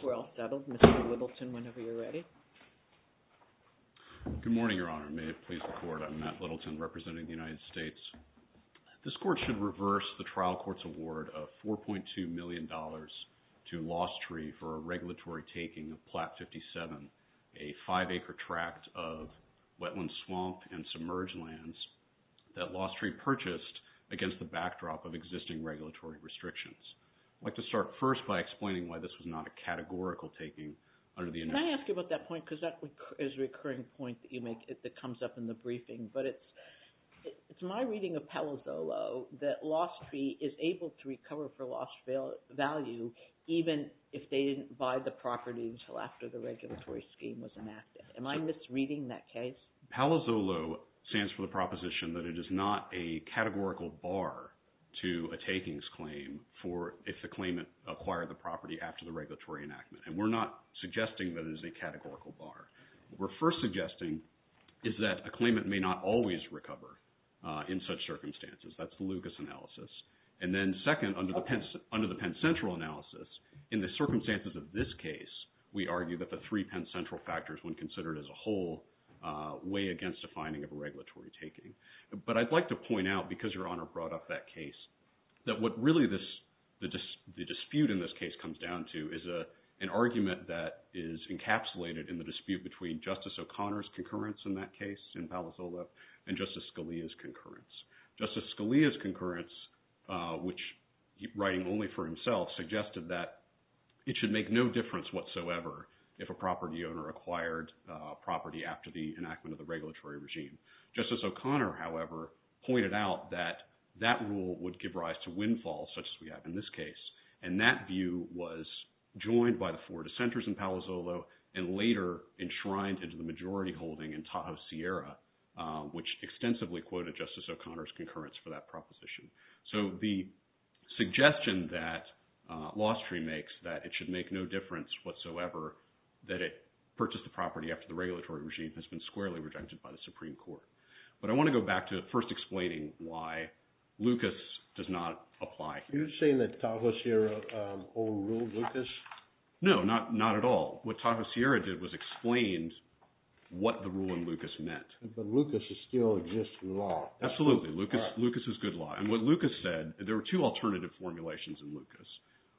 I think we're all settled, Mr. Whittle. Good morning, Your Honor. May it please the Court. I'm Matt Littleton representing the United States. This Court should reverse the trial court's award of $4.2 million to Lost Tree for a regulatory taking of Plat 57, a five-acre tract of wetland swamp and submerged lands that Lost Tree purchased against the backdrop of existing regulatory restrictions. I'd like to start first by explaining why this was not a categorical taking under the United States. Can I ask you about that point? Because that is a recurring point that you make that comes up in the briefing. But it's my reading of Palo Zolo that Lost Tree is able to recover for lost value, even if they didn't buy the property until after the regulatory scheme was enacted. Am I misreading that case? Palo Zolo stands for the proposition that it is not a categorical bar to a takings claim if the claimant acquired the property after the regulatory enactment. And we're not suggesting that it is a categorical bar. What we're first suggesting is that a claimant may not always recover in such circumstances. That's the Lucas analysis. And then second, under the Penn Central analysis, in the circumstances of this case, we argue that the three Penn Central factors, when considered as a whole, weigh against a finding of a regulatory taking. But I'd like to point out, because Your Honor brought up that case, that what really the dispute in this case comes down to is an argument that is encapsulated in the dispute between Justice O'Connor's concurrence in that case in Palo Zolo and Justice Scalia's concurrence. Justice Scalia's concurrence, which writing only for himself, suggested that it should make no difference whatsoever if a property owner acquired property after the enactment of the regulatory regime. Justice O'Connor, however, pointed out that that rule would give rise to windfall, such as we have in this case. And that view was joined by the four dissenters in Palo Zolo and later enshrined into the majority holding in Tahoe Sierra, which extensively quoted Justice O'Connor's concurrence for that proposition. So the suggestion that Lostry makes, that it should make no difference whatsoever, that it purchased the property after the regulatory regime, has been squarely rejected by the Supreme Court. But I want to go back to first explaining why Lucas does not apply. Are you saying that Tahoe Sierra overruled Lucas? No, not at all. What Tahoe Sierra did was explain what the rule in Lucas meant. But Lucas is still just law. Absolutely. Lucas is good law. And what Lucas said, there were two alternative formulations in Lucas.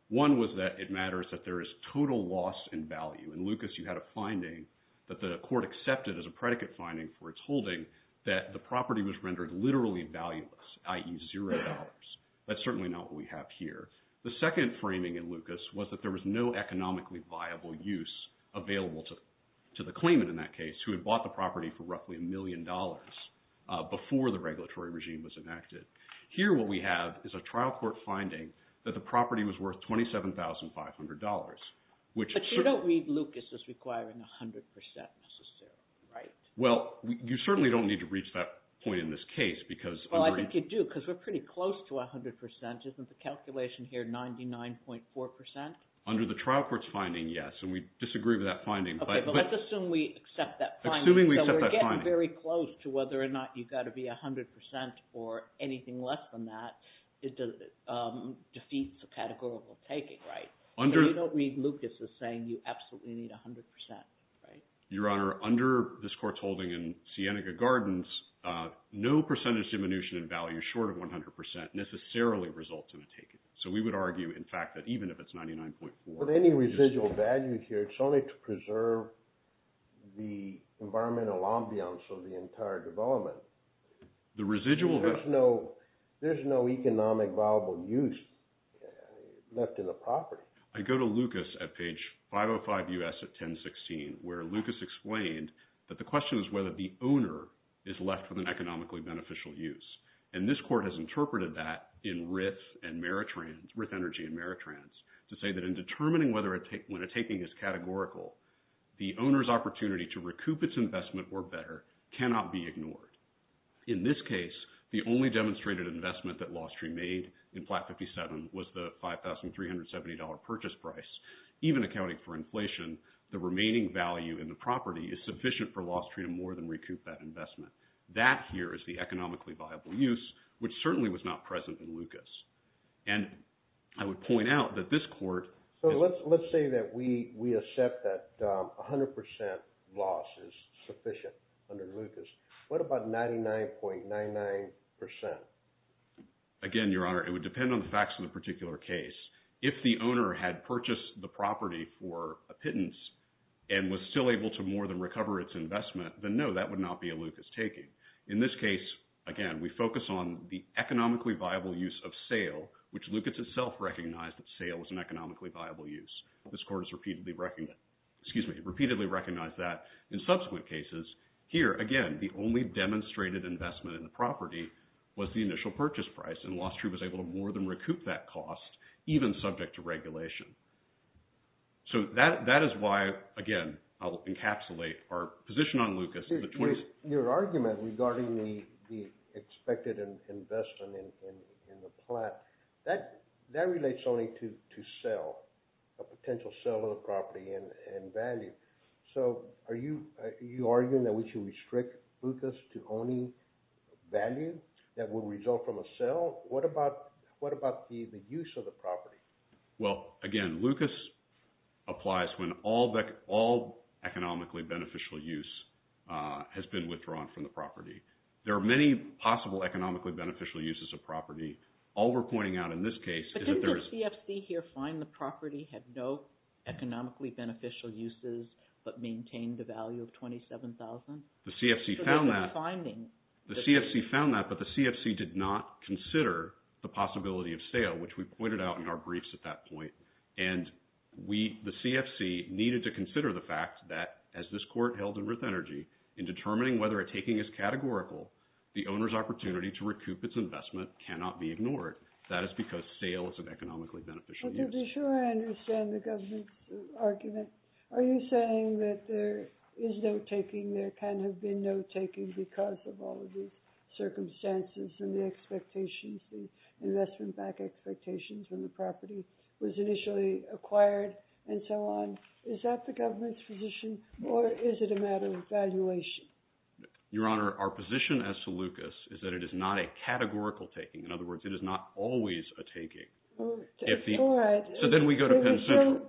One was that it matters that there is total loss in value. In Lucas you had a finding that the court accepted as a predicate finding for its holding that the property was rendered literally valueless, i.e. zero dollars. That's certainly not what we have here. The second framing in Lucas was that there was no economically viable use available to the claimant in that case, who had bought the property for roughly a million dollars before the regulatory regime was enacted. Here what we have is a trial court finding that the property was worth $27,500. But you don't read Lucas as requiring 100% necessarily, right? Well, you certainly don't need to reach that point in this case. Well, I think you do because we're pretty close to 100%. Isn't the calculation here 99.4%? Under the trial court's finding, yes, and we disagree with that finding. Okay, but let's assume we accept that finding. Assuming we accept that finding. So we're getting very close to whether or not you've got to be 100% or anything less than that defeats the categorical taking, right? You don't read Lucas as saying you absolutely need 100%, right? Your Honor, under this court's holding in Cienega Gardens, no percentage diminution in value short of 100% necessarily results in a taking. So we would argue, in fact, that even if it's 99.4%… But any residual value here, it's only to preserve the environmental ambience of the entire development. The residual… There's no economic viable use left in the property. I go to Lucas at page 505 U.S. at 1016 where Lucas explained that the question is whether the owner is left with an economically beneficial use. And this court has interpreted that in RIF and Meritrans, RIF Energy and Meritrans, to say that in determining when a taking is categorical, the owner's opportunity to recoup its investment or better cannot be ignored. In this case, the only demonstrated investment that Lostry made in flat 57 was the $5,370 purchase price. Even accounting for inflation, the remaining value in the property is sufficient for Lostry to more than recoup that investment. That here is the economically viable use, which certainly was not present in Lucas. And I would point out that this court… So let's say that we accept that 100% loss is sufficient under Lucas. What about 99.99%? Again, Your Honor, it would depend on the facts of the particular case. If the owner had purchased the property for a pittance and was still able to more than recover its investment, then no, that would not be a Lucas taking. In this case, again, we focus on the economically viable use of sale, which Lucas itself recognized that sale was an economically viable use. This court has repeatedly recognized that in subsequent cases. Here, again, the only demonstrated investment in the property was the initial purchase price, and Lostry was able to more than recoup that cost, even subject to regulation. So that is why, again, I'll encapsulate our position on Lucas. Your argument regarding the expected investment in the plat, that relates only to sale, a potential sale of the property and value. So are you arguing that we should restrict Lucas to only value that will result from a sale? What about the use of the property? Well, again, Lucas applies when all economically beneficial use has been withdrawn from the property. There are many possible economically beneficial uses of property. All we're pointing out in this case is that there's… But didn't the CFC here find the property had no economically beneficial uses but maintained the value of $27,000? The CFC found that, but the CFC did not consider the possibility of sale, which we pointed out in our briefs at that point. And the CFC needed to consider the fact that, as this court held in Ruth Energy, in determining whether a taking is categorical, the owner's opportunity to recoup its investment cannot be ignored. That is because sale is an economically beneficial use. To be sure I understand the government's argument. Are you saying that there is no taking, there can have been no taking because of all of the circumstances and the expectations, the investment-backed expectations when the property was initially acquired and so on? Is that the government's position, or is it a matter of evaluation? Your Honor, our position as to Lucas is that it is not a categorical taking. In other words, it is not always a taking. All right. So then we go to Penn Central.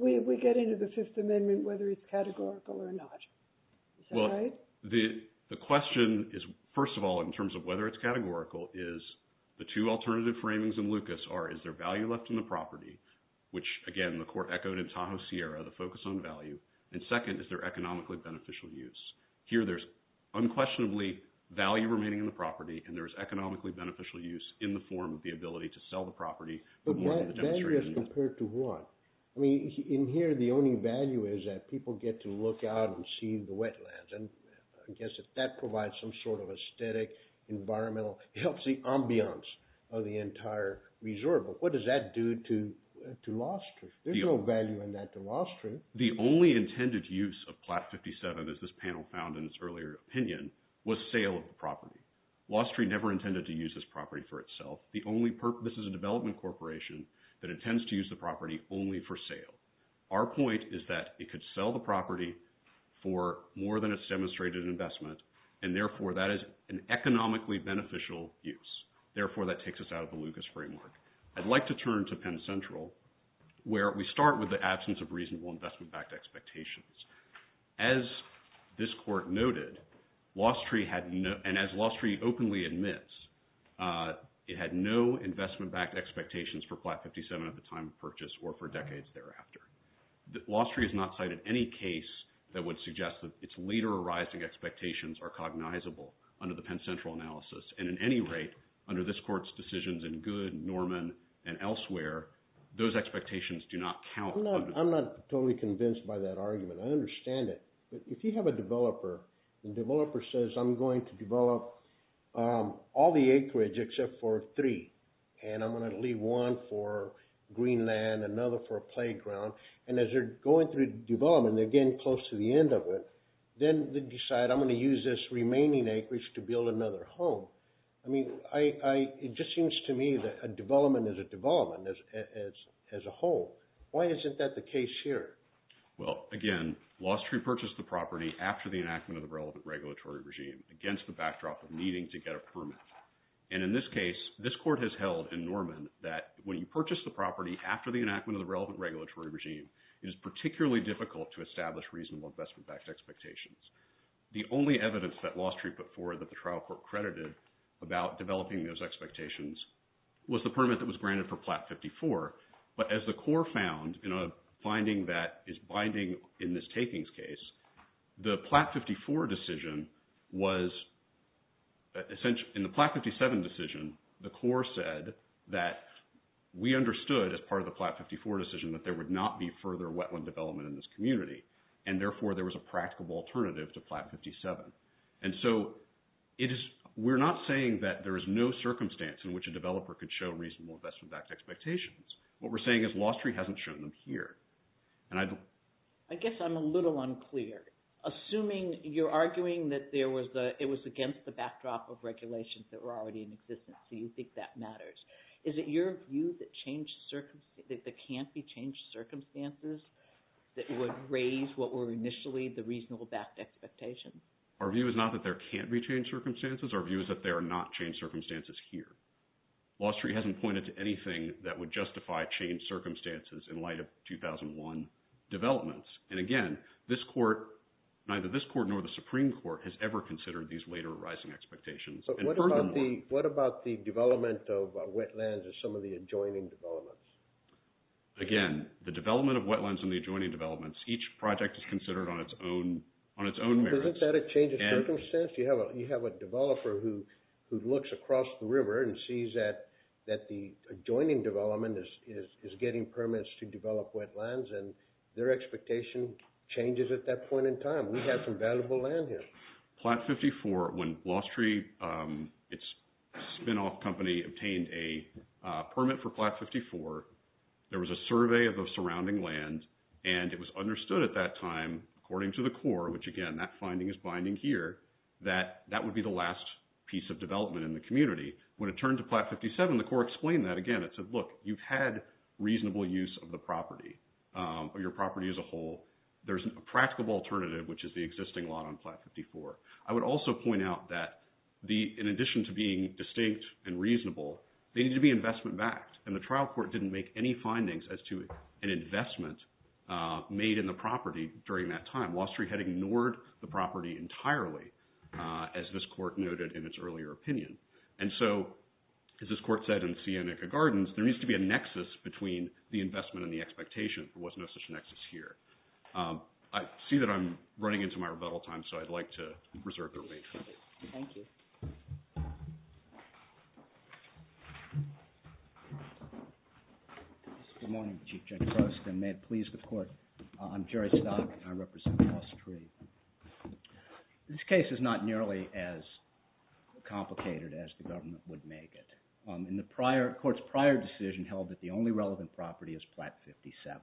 We get into the Fifth Amendment whether it's categorical or not. Is that right? Well, the question is, first of all, in terms of whether it's categorical, is the two alternative framings in Lucas are, is there value left in the property, which, again, the court echoed in Tahoe Sierra, the focus on value. And second, is there economically beneficial use? Here there's unquestionably value remaining in the property, and there's economically beneficial use in the form of the ability to sell the property. But what value is compared to what? I mean, in here the only value is that people get to look out and see the wetlands. And I guess that that provides some sort of aesthetic, environmental, healthy ambiance of the entire reserve. But what does that do to law enforcement? There's no value in that to law enforcement. The only intended use of Plat 57, as this panel found in its earlier opinion, was sale of the property. Wall Street never intended to use this property for itself. This is a development corporation that intends to use the property only for sale. Our point is that it could sell the property for more than its demonstrated investment, and, therefore, that is an economically beneficial use. Therefore, that takes us out of the Lucas framework. I'd like to turn to Penn Central, where we start with the absence of reasonable investment-backed expectations. As this court noted, and as Wall Street openly admits, it had no investment-backed expectations for Plat 57 at the time of purchase or for decades thereafter. Wall Street has not cited any case that would suggest that its later arising expectations are cognizable under the Penn Central analysis. And, at any rate, under this court's decisions in Good, Norman, and elsewhere, those expectations do not count. I'm not totally convinced by that argument. I understand it. But if you have a developer, and the developer says, I'm going to develop all the acreage except for three, and I'm going to leave one for green land, another for a playground. And as they're going through development, they're getting close to the end of it. Then they decide, I'm going to use this remaining acreage to build another home. I mean, it just seems to me that a development is a development as a whole. Why isn't that the case here? Well, again, Wall Street purchased the property after the enactment of the relevant regulatory regime against the backdrop of needing to get a permit. And in this case, this court has held in Norman that when you purchase the property after the enactment of the relevant regulatory regime, it is particularly difficult to establish reasonable investment-backed expectations. The only evidence that Wall Street put forward that the trial court credited about developing those expectations was the permit that was granted for Plat 54. But as the court found in a finding that is binding in this takings case, the Plat 54 decision was – in the Plat 57 decision, the court said that we understood as part of the Plat 54 decision that there would not be further wetland development in this community. And therefore, there was a practical alternative to Plat 57. And so we're not saying that there is no circumstance in which a developer could show reasonable investment-backed expectations. What we're saying is Wall Street hasn't shown them here. I guess I'm a little unclear. Assuming you're arguing that it was against the backdrop of regulations that were already in existence, do you think that matters? Is it your view that there can't be changed circumstances that would raise what were initially the reasonable-backed expectations? Our view is not that there can't be changed circumstances. Our view is that there are not changed circumstances here. Wall Street hasn't pointed to anything that would justify changed circumstances in light of 2001 developments. And again, this court – neither this court nor the Supreme Court has ever considered these later arising expectations. But what about the development of wetlands and some of the adjoining developments? Again, the development of wetlands and the adjoining developments, each project is considered on its own merits. Isn't that a change of circumstance? You have a developer who looks across the river and sees that the adjoining development is getting permits to develop wetlands, and their expectation changes at that point in time. We have some valuable land here. Plat 54, when Wall Street, its spinoff company, obtained a permit for Plat 54, there was a survey of the surrounding land. And it was understood at that time, according to the court, which again, that finding is binding here, that that would be the last piece of development in the community. When it turned to Plat 57, the court explained that again. It said, look, you've had reasonable use of the property or your property as a whole. There's a practical alternative, which is the existing lot on Plat 54. I would also point out that in addition to being distinct and reasonable, they need to be investment-backed. And the trial court didn't make any findings as to an investment made in the property during that time. Wall Street had ignored the property entirely, as this court noted in its earlier opinion. And so, as this court said in Cianica Gardens, there needs to be a nexus between the investment and the expectation. There was no such nexus here. I see that I'm running into my rebuttal time, so I'd like to reserve the remaining time. Thank you. Good morning, Chief Judge Rost. And may it please the court, I'm Jerry Stock, and I represent Wall Street. This case is not nearly as complicated as the government would make it. In the court's prior decision held that the only relevant property is Plat 57.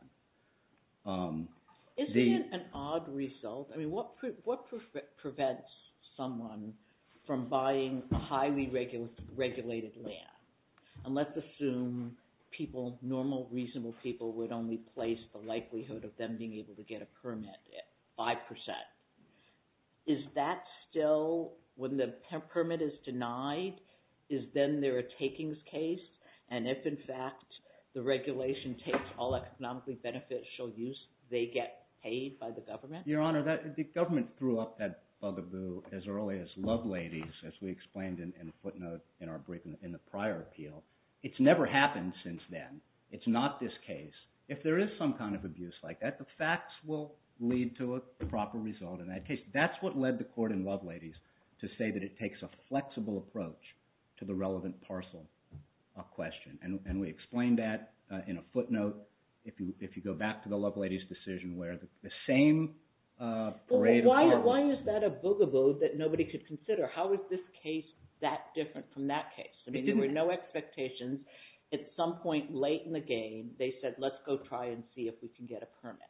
Isn't it an odd result? I mean, what prevents someone from buying highly regulated land? And let's assume people, normal reasonable people, would only place the likelihood of them being able to get a permit at 5%. Is that still, when the permit is denied, is then there a takings case? And if, in fact, the regulation takes all economically beneficial use, they get paid by the government? Your Honor, the government threw up that bugaboo as early as Loveladies, as we explained in a footnote in our briefing in the prior appeal. It's never happened since then. It's not this case. If there is some kind of abuse like that, the facts will lead to a proper result in that case. That's what led the court in Loveladies to say that it takes a flexible approach to the relevant parcel question. And we explained that in a footnote, if you go back to the Loveladies decision, where the same parade of arguments… Why is that a bugaboo that nobody could consider? How is this case that different from that case? I mean, there were no expectations. At some point late in the game, they said, let's go try and see if we can get a permit.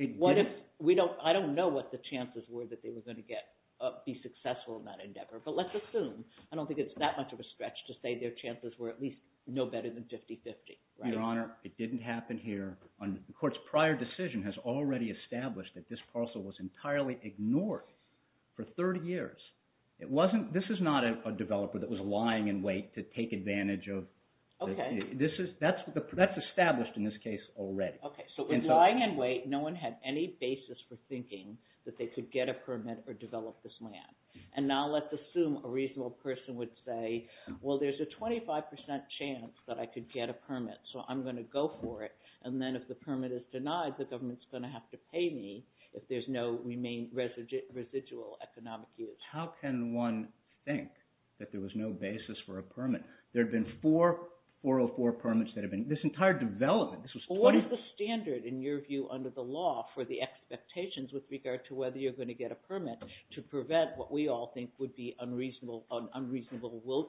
I don't know what the chances were that they were going to be successful in that endeavor, but let's assume. I don't think it's that much of a stretch to say their chances were at least no better than 50-50. Your Honor, it didn't happen here. The court's prior decision has already established that this parcel was entirely ignored for 30 years. This is not a developer that was lying in wait to take advantage of… Okay. That's established in this case already. Okay, so with lying in wait, no one had any basis for thinking that they could get a permit or develop this land. And now let's assume a reasonable person would say, well, there's a 25% chance that I could get a permit, so I'm going to go for it. And then if the permit is denied, the government's going to have to pay me if there's no residual economic use. How can one think that there was no basis for a permit? There have been four 404 permits that have been – this entire development, this was 20… Well, what is the standard in your view under the law for the expectations with regard to whether you're going to get a permit to prevent what we all think would be unreasonable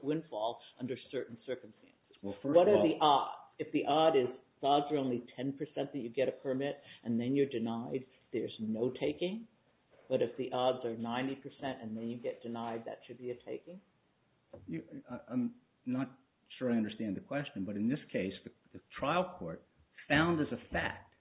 windfall under certain circumstances? Well, first of all… What are the odds? If the odds are only 10% that you get a permit and then you're denied, there's no taking? But if the odds are 90% and then you get denied, that should be a taking? I'm not sure I understand the question, but in this case, the trial court found as a fact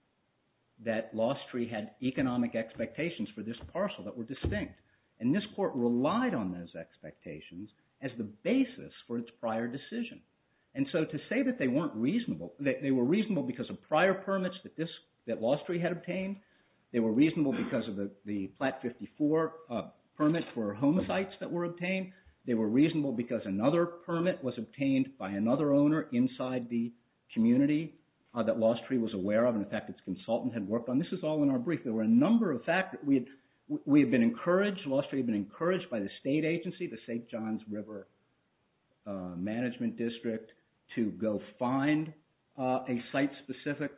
that Lostree had economic expectations for this parcel that were distinct. And this court relied on those expectations as the basis for its prior decision. And so to say that they weren't reasonable – they were reasonable because of prior permits that Lostree had obtained. They were reasonable because of the Platte 54 permit for home sites that were obtained. They were reasonable because another permit was obtained by another owner inside the community that Lostree was aware of and, in fact, its consultant had worked on. This is all in our brief. There were a number of factors. We had been encouraged – Lostree had been encouraged by the state agency, the St. Johns River Management District, to go find a site-specific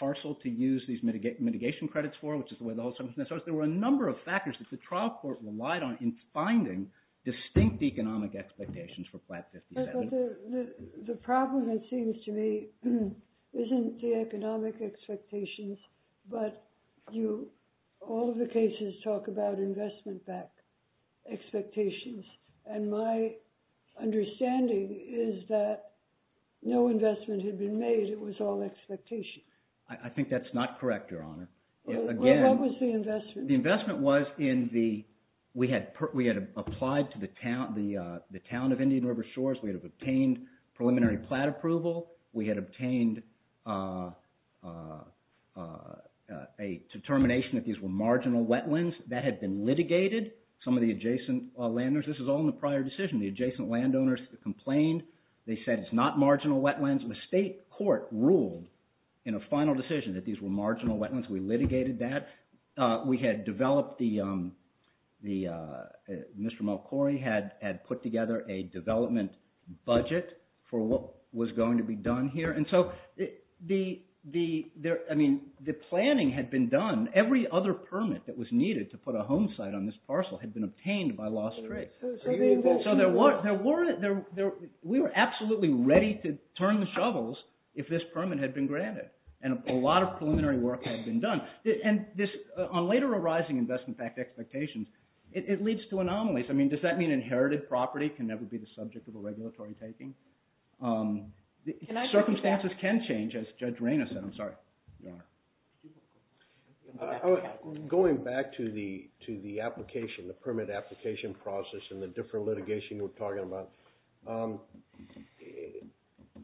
parcel to use these mitigation credits for, which is the way the whole sentence starts. There were a number of factors that the trial court relied on in finding distinct economic expectations for Platte 57. But the problem, it seems to me, isn't the economic expectations, but you – all of the cases talk about investment-backed expectations. And my understanding is that no investment had been made. It was all expectation. I think that's not correct, Your Honor. What was the investment? The investment was in the – we had applied to the town of Indian River Shores. We had obtained preliminary Platte approval. We had obtained a determination that these were marginal wetlands. That had been litigated. Some of the adjacent landowners – this is all in the prior decision. The adjacent landowners complained. They said it's not marginal wetlands. The state court ruled in a final decision that these were marginal wetlands. We litigated that. We had developed the – Mr. Mulchory had put together a development budget for what was going to be done here. And so the – I mean, the planning had been done. Every other permit that was needed to put a home site on this parcel had been obtained by lost trace. So there were – we were absolutely ready to turn the shovels if this permit had been granted. And a lot of preliminary work had been done. And this – on later arising investment fact expectations, it leads to anomalies. I mean, does that mean inherited property can never be the subject of a regulatory taking? Circumstances can change, as Judge Raina said. I'm sorry, Your Honor. Going back to the application, the permit application process and the different litigation you were talking about,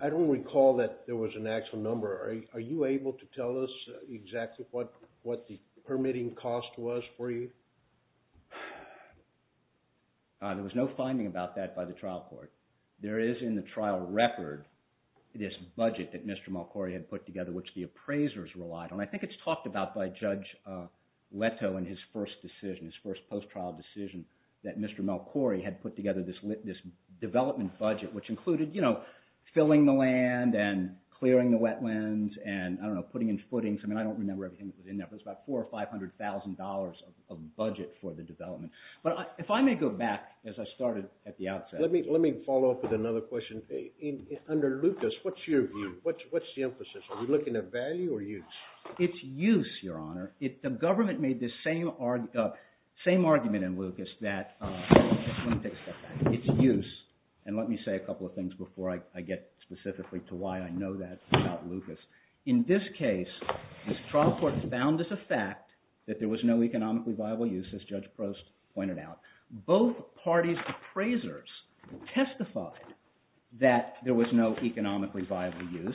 I don't recall that there was an actual number. Are you able to tell us exactly what the permitting cost was for you? There was no finding about that by the trial court. There is in the trial record this budget that Mr. Mulchory had put together, which the appraisers relied on. I think it's talked about by Judge Leto in his first decision, his first post-trial decision, that Mr. Mulchory had put together this development budget, which included filling the land and clearing the wetlands and, I don't know, putting in footings. I mean, I don't remember everything that was in there, but it was about $400,000 or $500,000 of budget for the development. But if I may go back, as I started at the outset. Let me follow up with another question. Under Lucas, what's your view? What's the emphasis? Are we looking at value or use? It's use, Your Honor. The government made the same argument in Lucas that – let me take a step back. It's use. And let me say a couple of things before I get specifically to why I know that about Lucas. In this case, this trial court found as a fact that there was no economically viable use, as Judge Prost pointed out. Both parties' appraisers testified that there was no economically viable use.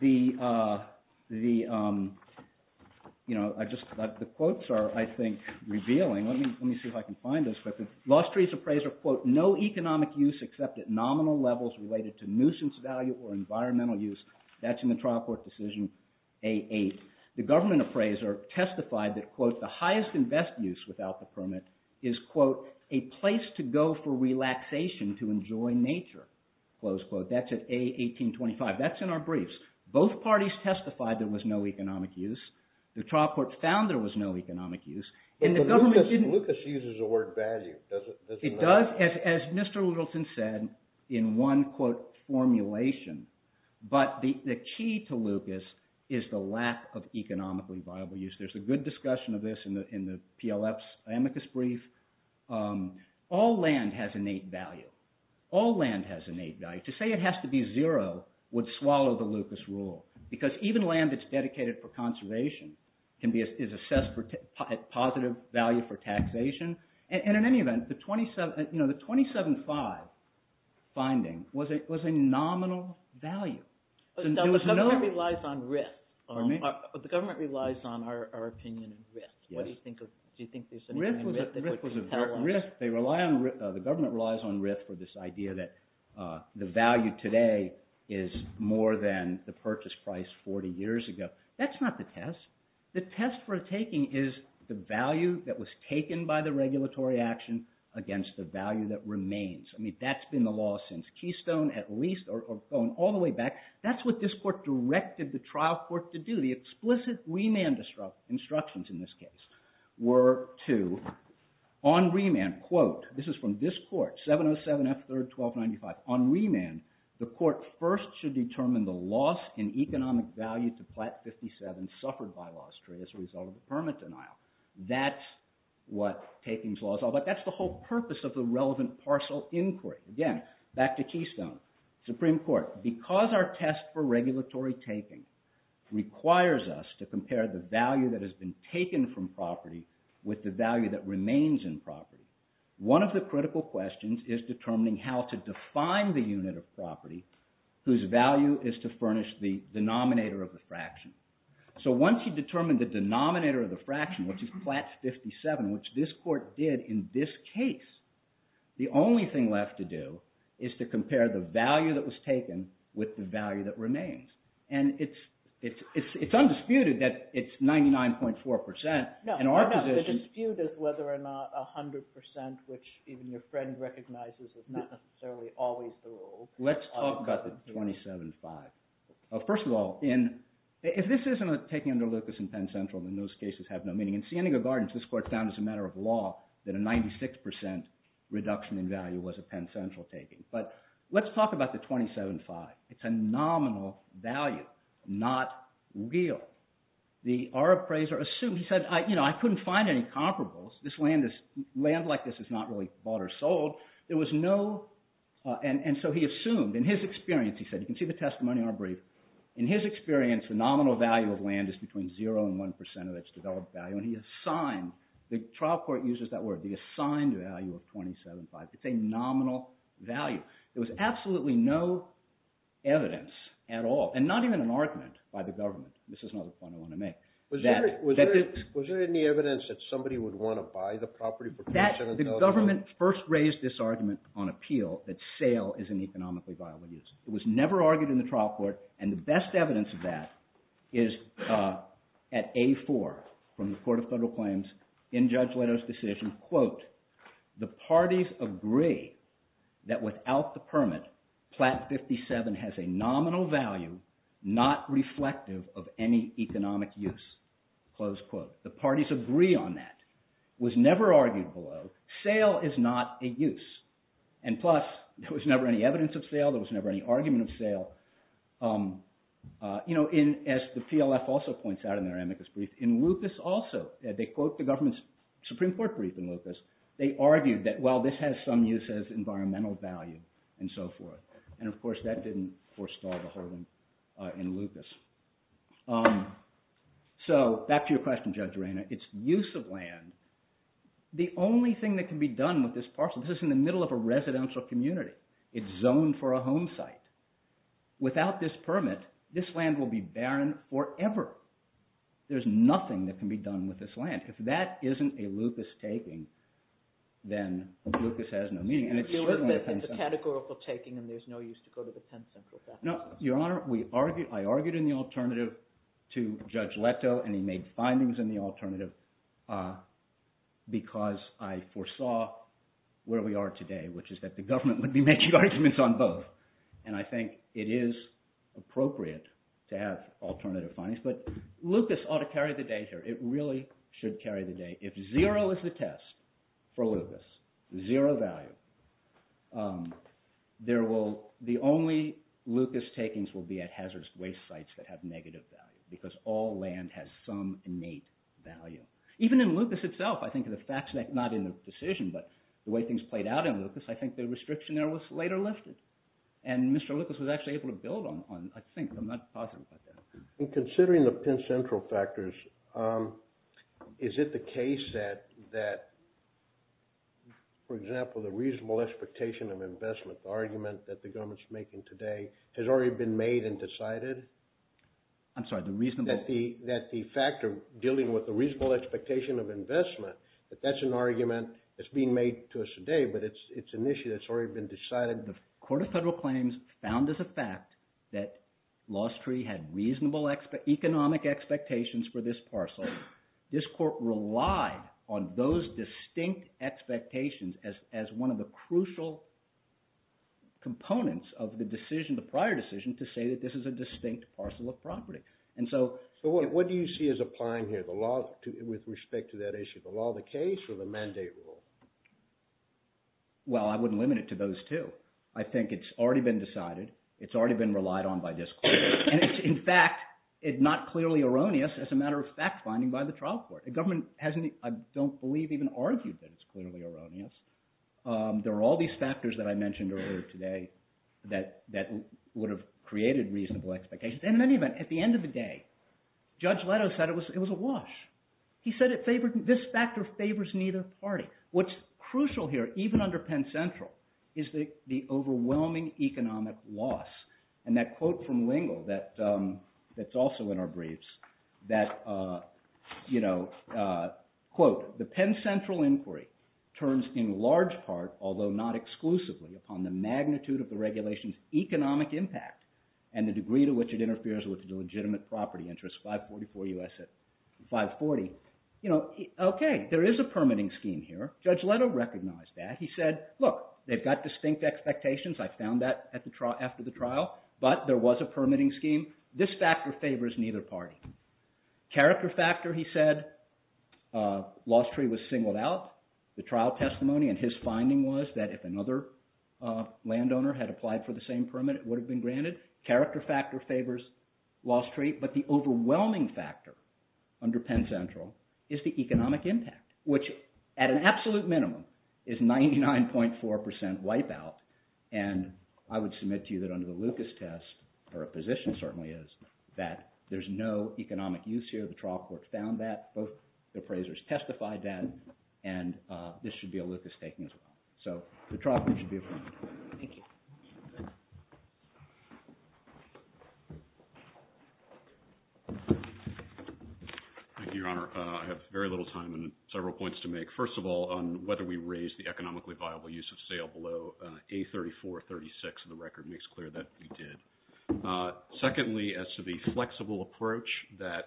The quotes are, I think, revealing. Let me see if I can find those quickly. Lostry's appraiser, quote, no economic use except at nominal levels related to nuisance value or environmental use. That's in the trial court decision A-8. The government appraiser testified that, quote, the highest and best use without the permit is, quote, a place to go for relaxation to enjoy nature, close quote. That's at A-1825. That's in our briefs. Both parties testified there was no economic use. The trial court found there was no economic use. And the government didn't – But Lucas uses the word value. It does, as Mr. Littleton said, in one, quote, formulation. But the key to Lucas is the lack of economically viable use. There's a good discussion of this in the PLF's amicus brief. All land has innate value. All land has innate value. To say it has to be zero would swallow the Lucas rule because even land that's dedicated for conservation is assessed for positive value for taxation. And in any event, the 27 – you know, the 27-5 finding was a nominal value. So the government relies on RIF. Pardon me? The government relies on our opinion on RIF. Yes. What do you think of – do you think there's anything in RIF that would tell us? RIF was a – RIF, they rely on – the government relies on RIF for this idea that the value today is more than the purchase price 40 years ago. That's not the test. The test for a taking is the value that was taken by the regulatory action against the value that remains. I mean, that's been the law since Keystone, at least, or going all the way back. That's what this court directed the trial court to do. So the explicit remand instructions in this case were to, on remand, quote – this is from this court, 707 F. 3rd, 1295. On remand, the court first should determine the loss in economic value to Platt 57 suffered by lost trade as a result of the permit denial. That's what taking's law is all about. That's the whole purpose of the relevant parcel inquiry. Again, back to Keystone, Supreme Court, because our test for regulatory taking requires us to compare the value that has been taken from property with the value that remains in property, one of the critical questions is determining how to define the unit of property whose value is to furnish the denominator of the fraction. So once you determine the denominator of the fraction, which is Platt 57, which this court did in this case, the only thing left to do is to compare the value that was taken with the value that remains. And it's undisputed that it's 99.4 percent. No, no, the dispute is whether or not 100 percent, which even your friend recognizes is not necessarily always the rule. Let's talk about the 27.5. First of all, if this isn't a taking under Lucas in Penn Central, then those cases have no meaning. In Sienega Gardens, this court found as a matter of law that a 96 percent reduction in value was a Penn Central taking. But let's talk about the 27.5. It's a nominal value, not real. The Arab appraiser assumed – he said, I couldn't find any comparables. This land is – land like this is not really bought or sold. There was no – and so he assumed. In his experience, he said – you can see the testimony in our brief. In his experience, the nominal value of land is between zero and one percent of its developed value, and he assigned – the trial court uses that word, the assigned value of 27.5. It's a nominal value. There was absolutely no evidence at all, and not even an argument by the government. This is another point I want to make. Was there any evidence that somebody would want to buy the property? The government first raised this argument on appeal that sale is an economically viable use. It was never argued in the trial court, and the best evidence of that is at A4 from the Court of Federal Claims in Judge Leto's decision, quote, the parties agree that without the permit, Plat 57 has a nominal value not reflective of any economic use, close quote. The parties agree on that. It was never argued below. Sale is not a use, and plus, there was never any evidence of sale. There was never any argument of sale. As the PLF also points out in their amicus brief, in Lucas also, they quote the government's Supreme Court brief in Lucas. They argued that, well, this has some use as environmental value and so forth, and of course, that didn't forestall the holding in Lucas. So back to your question, Judge Arena. It's use of land. The only thing that can be done with this parcel, this is in the middle of a residential community. It's zoned for a home site. Without this permit, this land will be barren forever. There's nothing that can be done with this land. If that isn't a Lucas taking, then Lucas has no meaning, and it's certainly a 10th Central. It's a categorical taking, and there's no use to go to the 10th Central. No, Your Honor. I argued in the alternative to Judge Leto, and he made findings in the alternative because I foresaw where we are today, which is that the government would be making arguments on both. And I think it is appropriate to have alternative findings, but Lucas ought to carry the day here. It really should carry the day. If zero is the test for Lucas, zero value, the only Lucas takings will be at hazardous waste sites that have negative value because all land has some innate value. Even in Lucas itself, I think the facts, not in the decision, but the way things played out in Lucas, I think the restriction there was later lifted. And Mr. Lucas was actually able to build on, I think. I'm not positive about that. In considering the 10th Central factors, is it the case that, for example, the reasonable expectation of investment, the argument that the government is making today, has already been made and decided? I'm sorry, the reasonable – That the factor dealing with the reasonable expectation of investment, that that's an argument that's being made to us today, but it's an issue that's already been decided. The Court of Federal Claims found as a fact that Lost Tree had reasonable economic expectations for this parcel. This court relied on those distinct expectations as one of the crucial components of the decision, the prior decision, to say that this is a distinct parcel of property. And so – So what do you see as applying here, the law with respect to that issue? The law of the case or the mandate rule? Well, I wouldn't limit it to those two. I think it's already been decided. It's already been relied on by this court. And it's, in fact, not clearly erroneous as a matter of fact finding by the trial court. The government hasn't – I don't believe even argued that it's clearly erroneous. There are all these factors that I mentioned earlier today that would have created reasonable expectations. And in any event, at the end of the day, Judge Leto said it was a wash. He said it favored – this factor favors neither party. What's crucial here, even under Penn Central, is the overwhelming economic loss. And that quote from Lingle that's also in our briefs, that, quote, the Penn Central inquiry turns in large part, although not exclusively, upon the magnitude of the regulation's economic impact and the degree to which it interferes with the legitimate property interest, 544 U.S. 540. You know, okay, there is a permitting scheme here. Judge Leto recognized that. He said, look, they've got distinct expectations. I found that after the trial. But there was a permitting scheme. This factor favors neither party. Character factor, he said, loss tree was singled out. The trial testimony and his finding was that if another landowner had applied for the same permit, it would have been granted. Character factor favors loss tree. But the overwhelming factor under Penn Central is the economic impact, which at an absolute minimum is 99.4 percent wipeout. And I would submit to you that under the Lucas test, or a position certainly is, that there's no economic use here. The trial court found that. Both appraisers testified that. And this should be a Lucas taking as well. So the trial court should be appointed. Thank you. Thank you, Your Honor. I have very little time and several points to make. First of all, on whether we raised the economically viable use of sale below A34-36. The record makes clear that we did. Secondly, as to the flexible approach that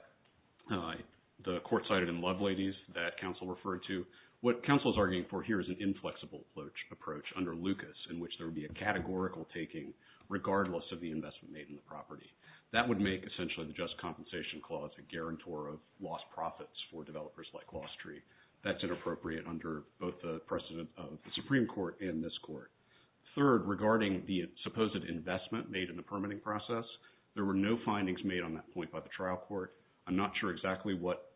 the court cited in Loveladies that counsel referred to, what counsel is arguing for here is an inflexible approach under Lucas in which there would be a categorical taking, regardless of the investment made in the property. That would make essentially the just compensation clause a guarantor of lost profits for developers like loss tree. That's inappropriate under both the precedent of the Supreme Court and this court. Third, regarding the supposed investment made in the permitting process, there were no findings made on that point by the trial court. I'm not sure exactly what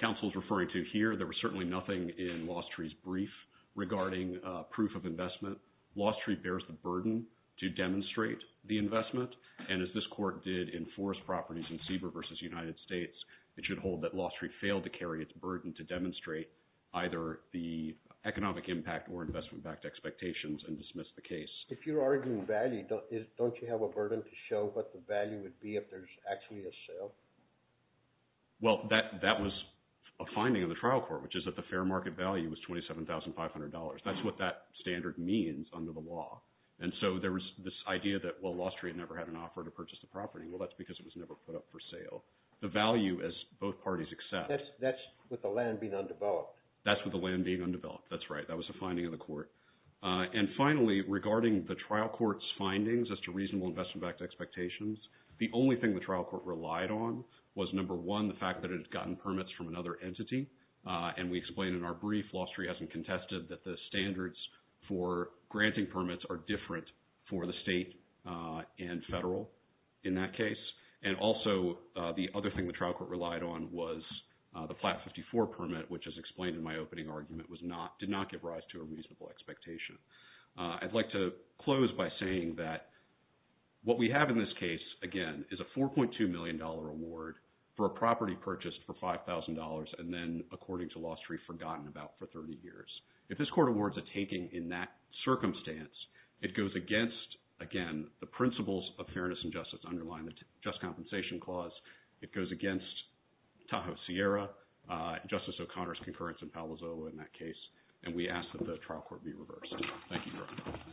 counsel is referring to here. There was certainly nothing in loss tree's brief regarding proof of investment. Loss tree bears the burden to demonstrate the investment. And as this court did in forest properties in Seaver versus United States, it should hold that loss tree failed to carry its burden to demonstrate either the economic impact or investment-backed expectations and dismiss the case. If you're arguing value, don't you have a burden to show what the value would be if there's actually a sale? Well, that was a finding of the trial court, which is that the fair market value was $27,500. That's what that standard means under the law. And so there was this idea that, well, loss tree never had an offer to purchase the property. Well, that's because it was never put up for sale. The value, as both parties accept. That's with the land being undeveloped. That's with the land being undeveloped. That's right. That was a finding of the court. And finally, regarding the trial court's findings as to reasonable investment-backed expectations, the only thing the trial court relied on was, number one, the fact that it had gotten permits from another entity. And we explained in our brief, loss tree hasn't contested, that the standards for granting permits are different for the state and federal in that case. And also, the other thing the trial court relied on was the flat 54 permit, which is explained in my opening argument, did not give rise to a reasonable expectation. I'd like to close by saying that what we have in this case, again, is a $4.2 million award for a property purchased for $5,000 and then, according to loss tree, forgotten about for 30 years. If this court awards a taking in that circumstance, it goes against, again, the principles of fairness and justice underlying the just compensation clause. It goes against Tahoe Sierra, Justice O'Connor's concurrence in Palo Zolo in that case, and we ask that the trial court be reversed. Thank you very much.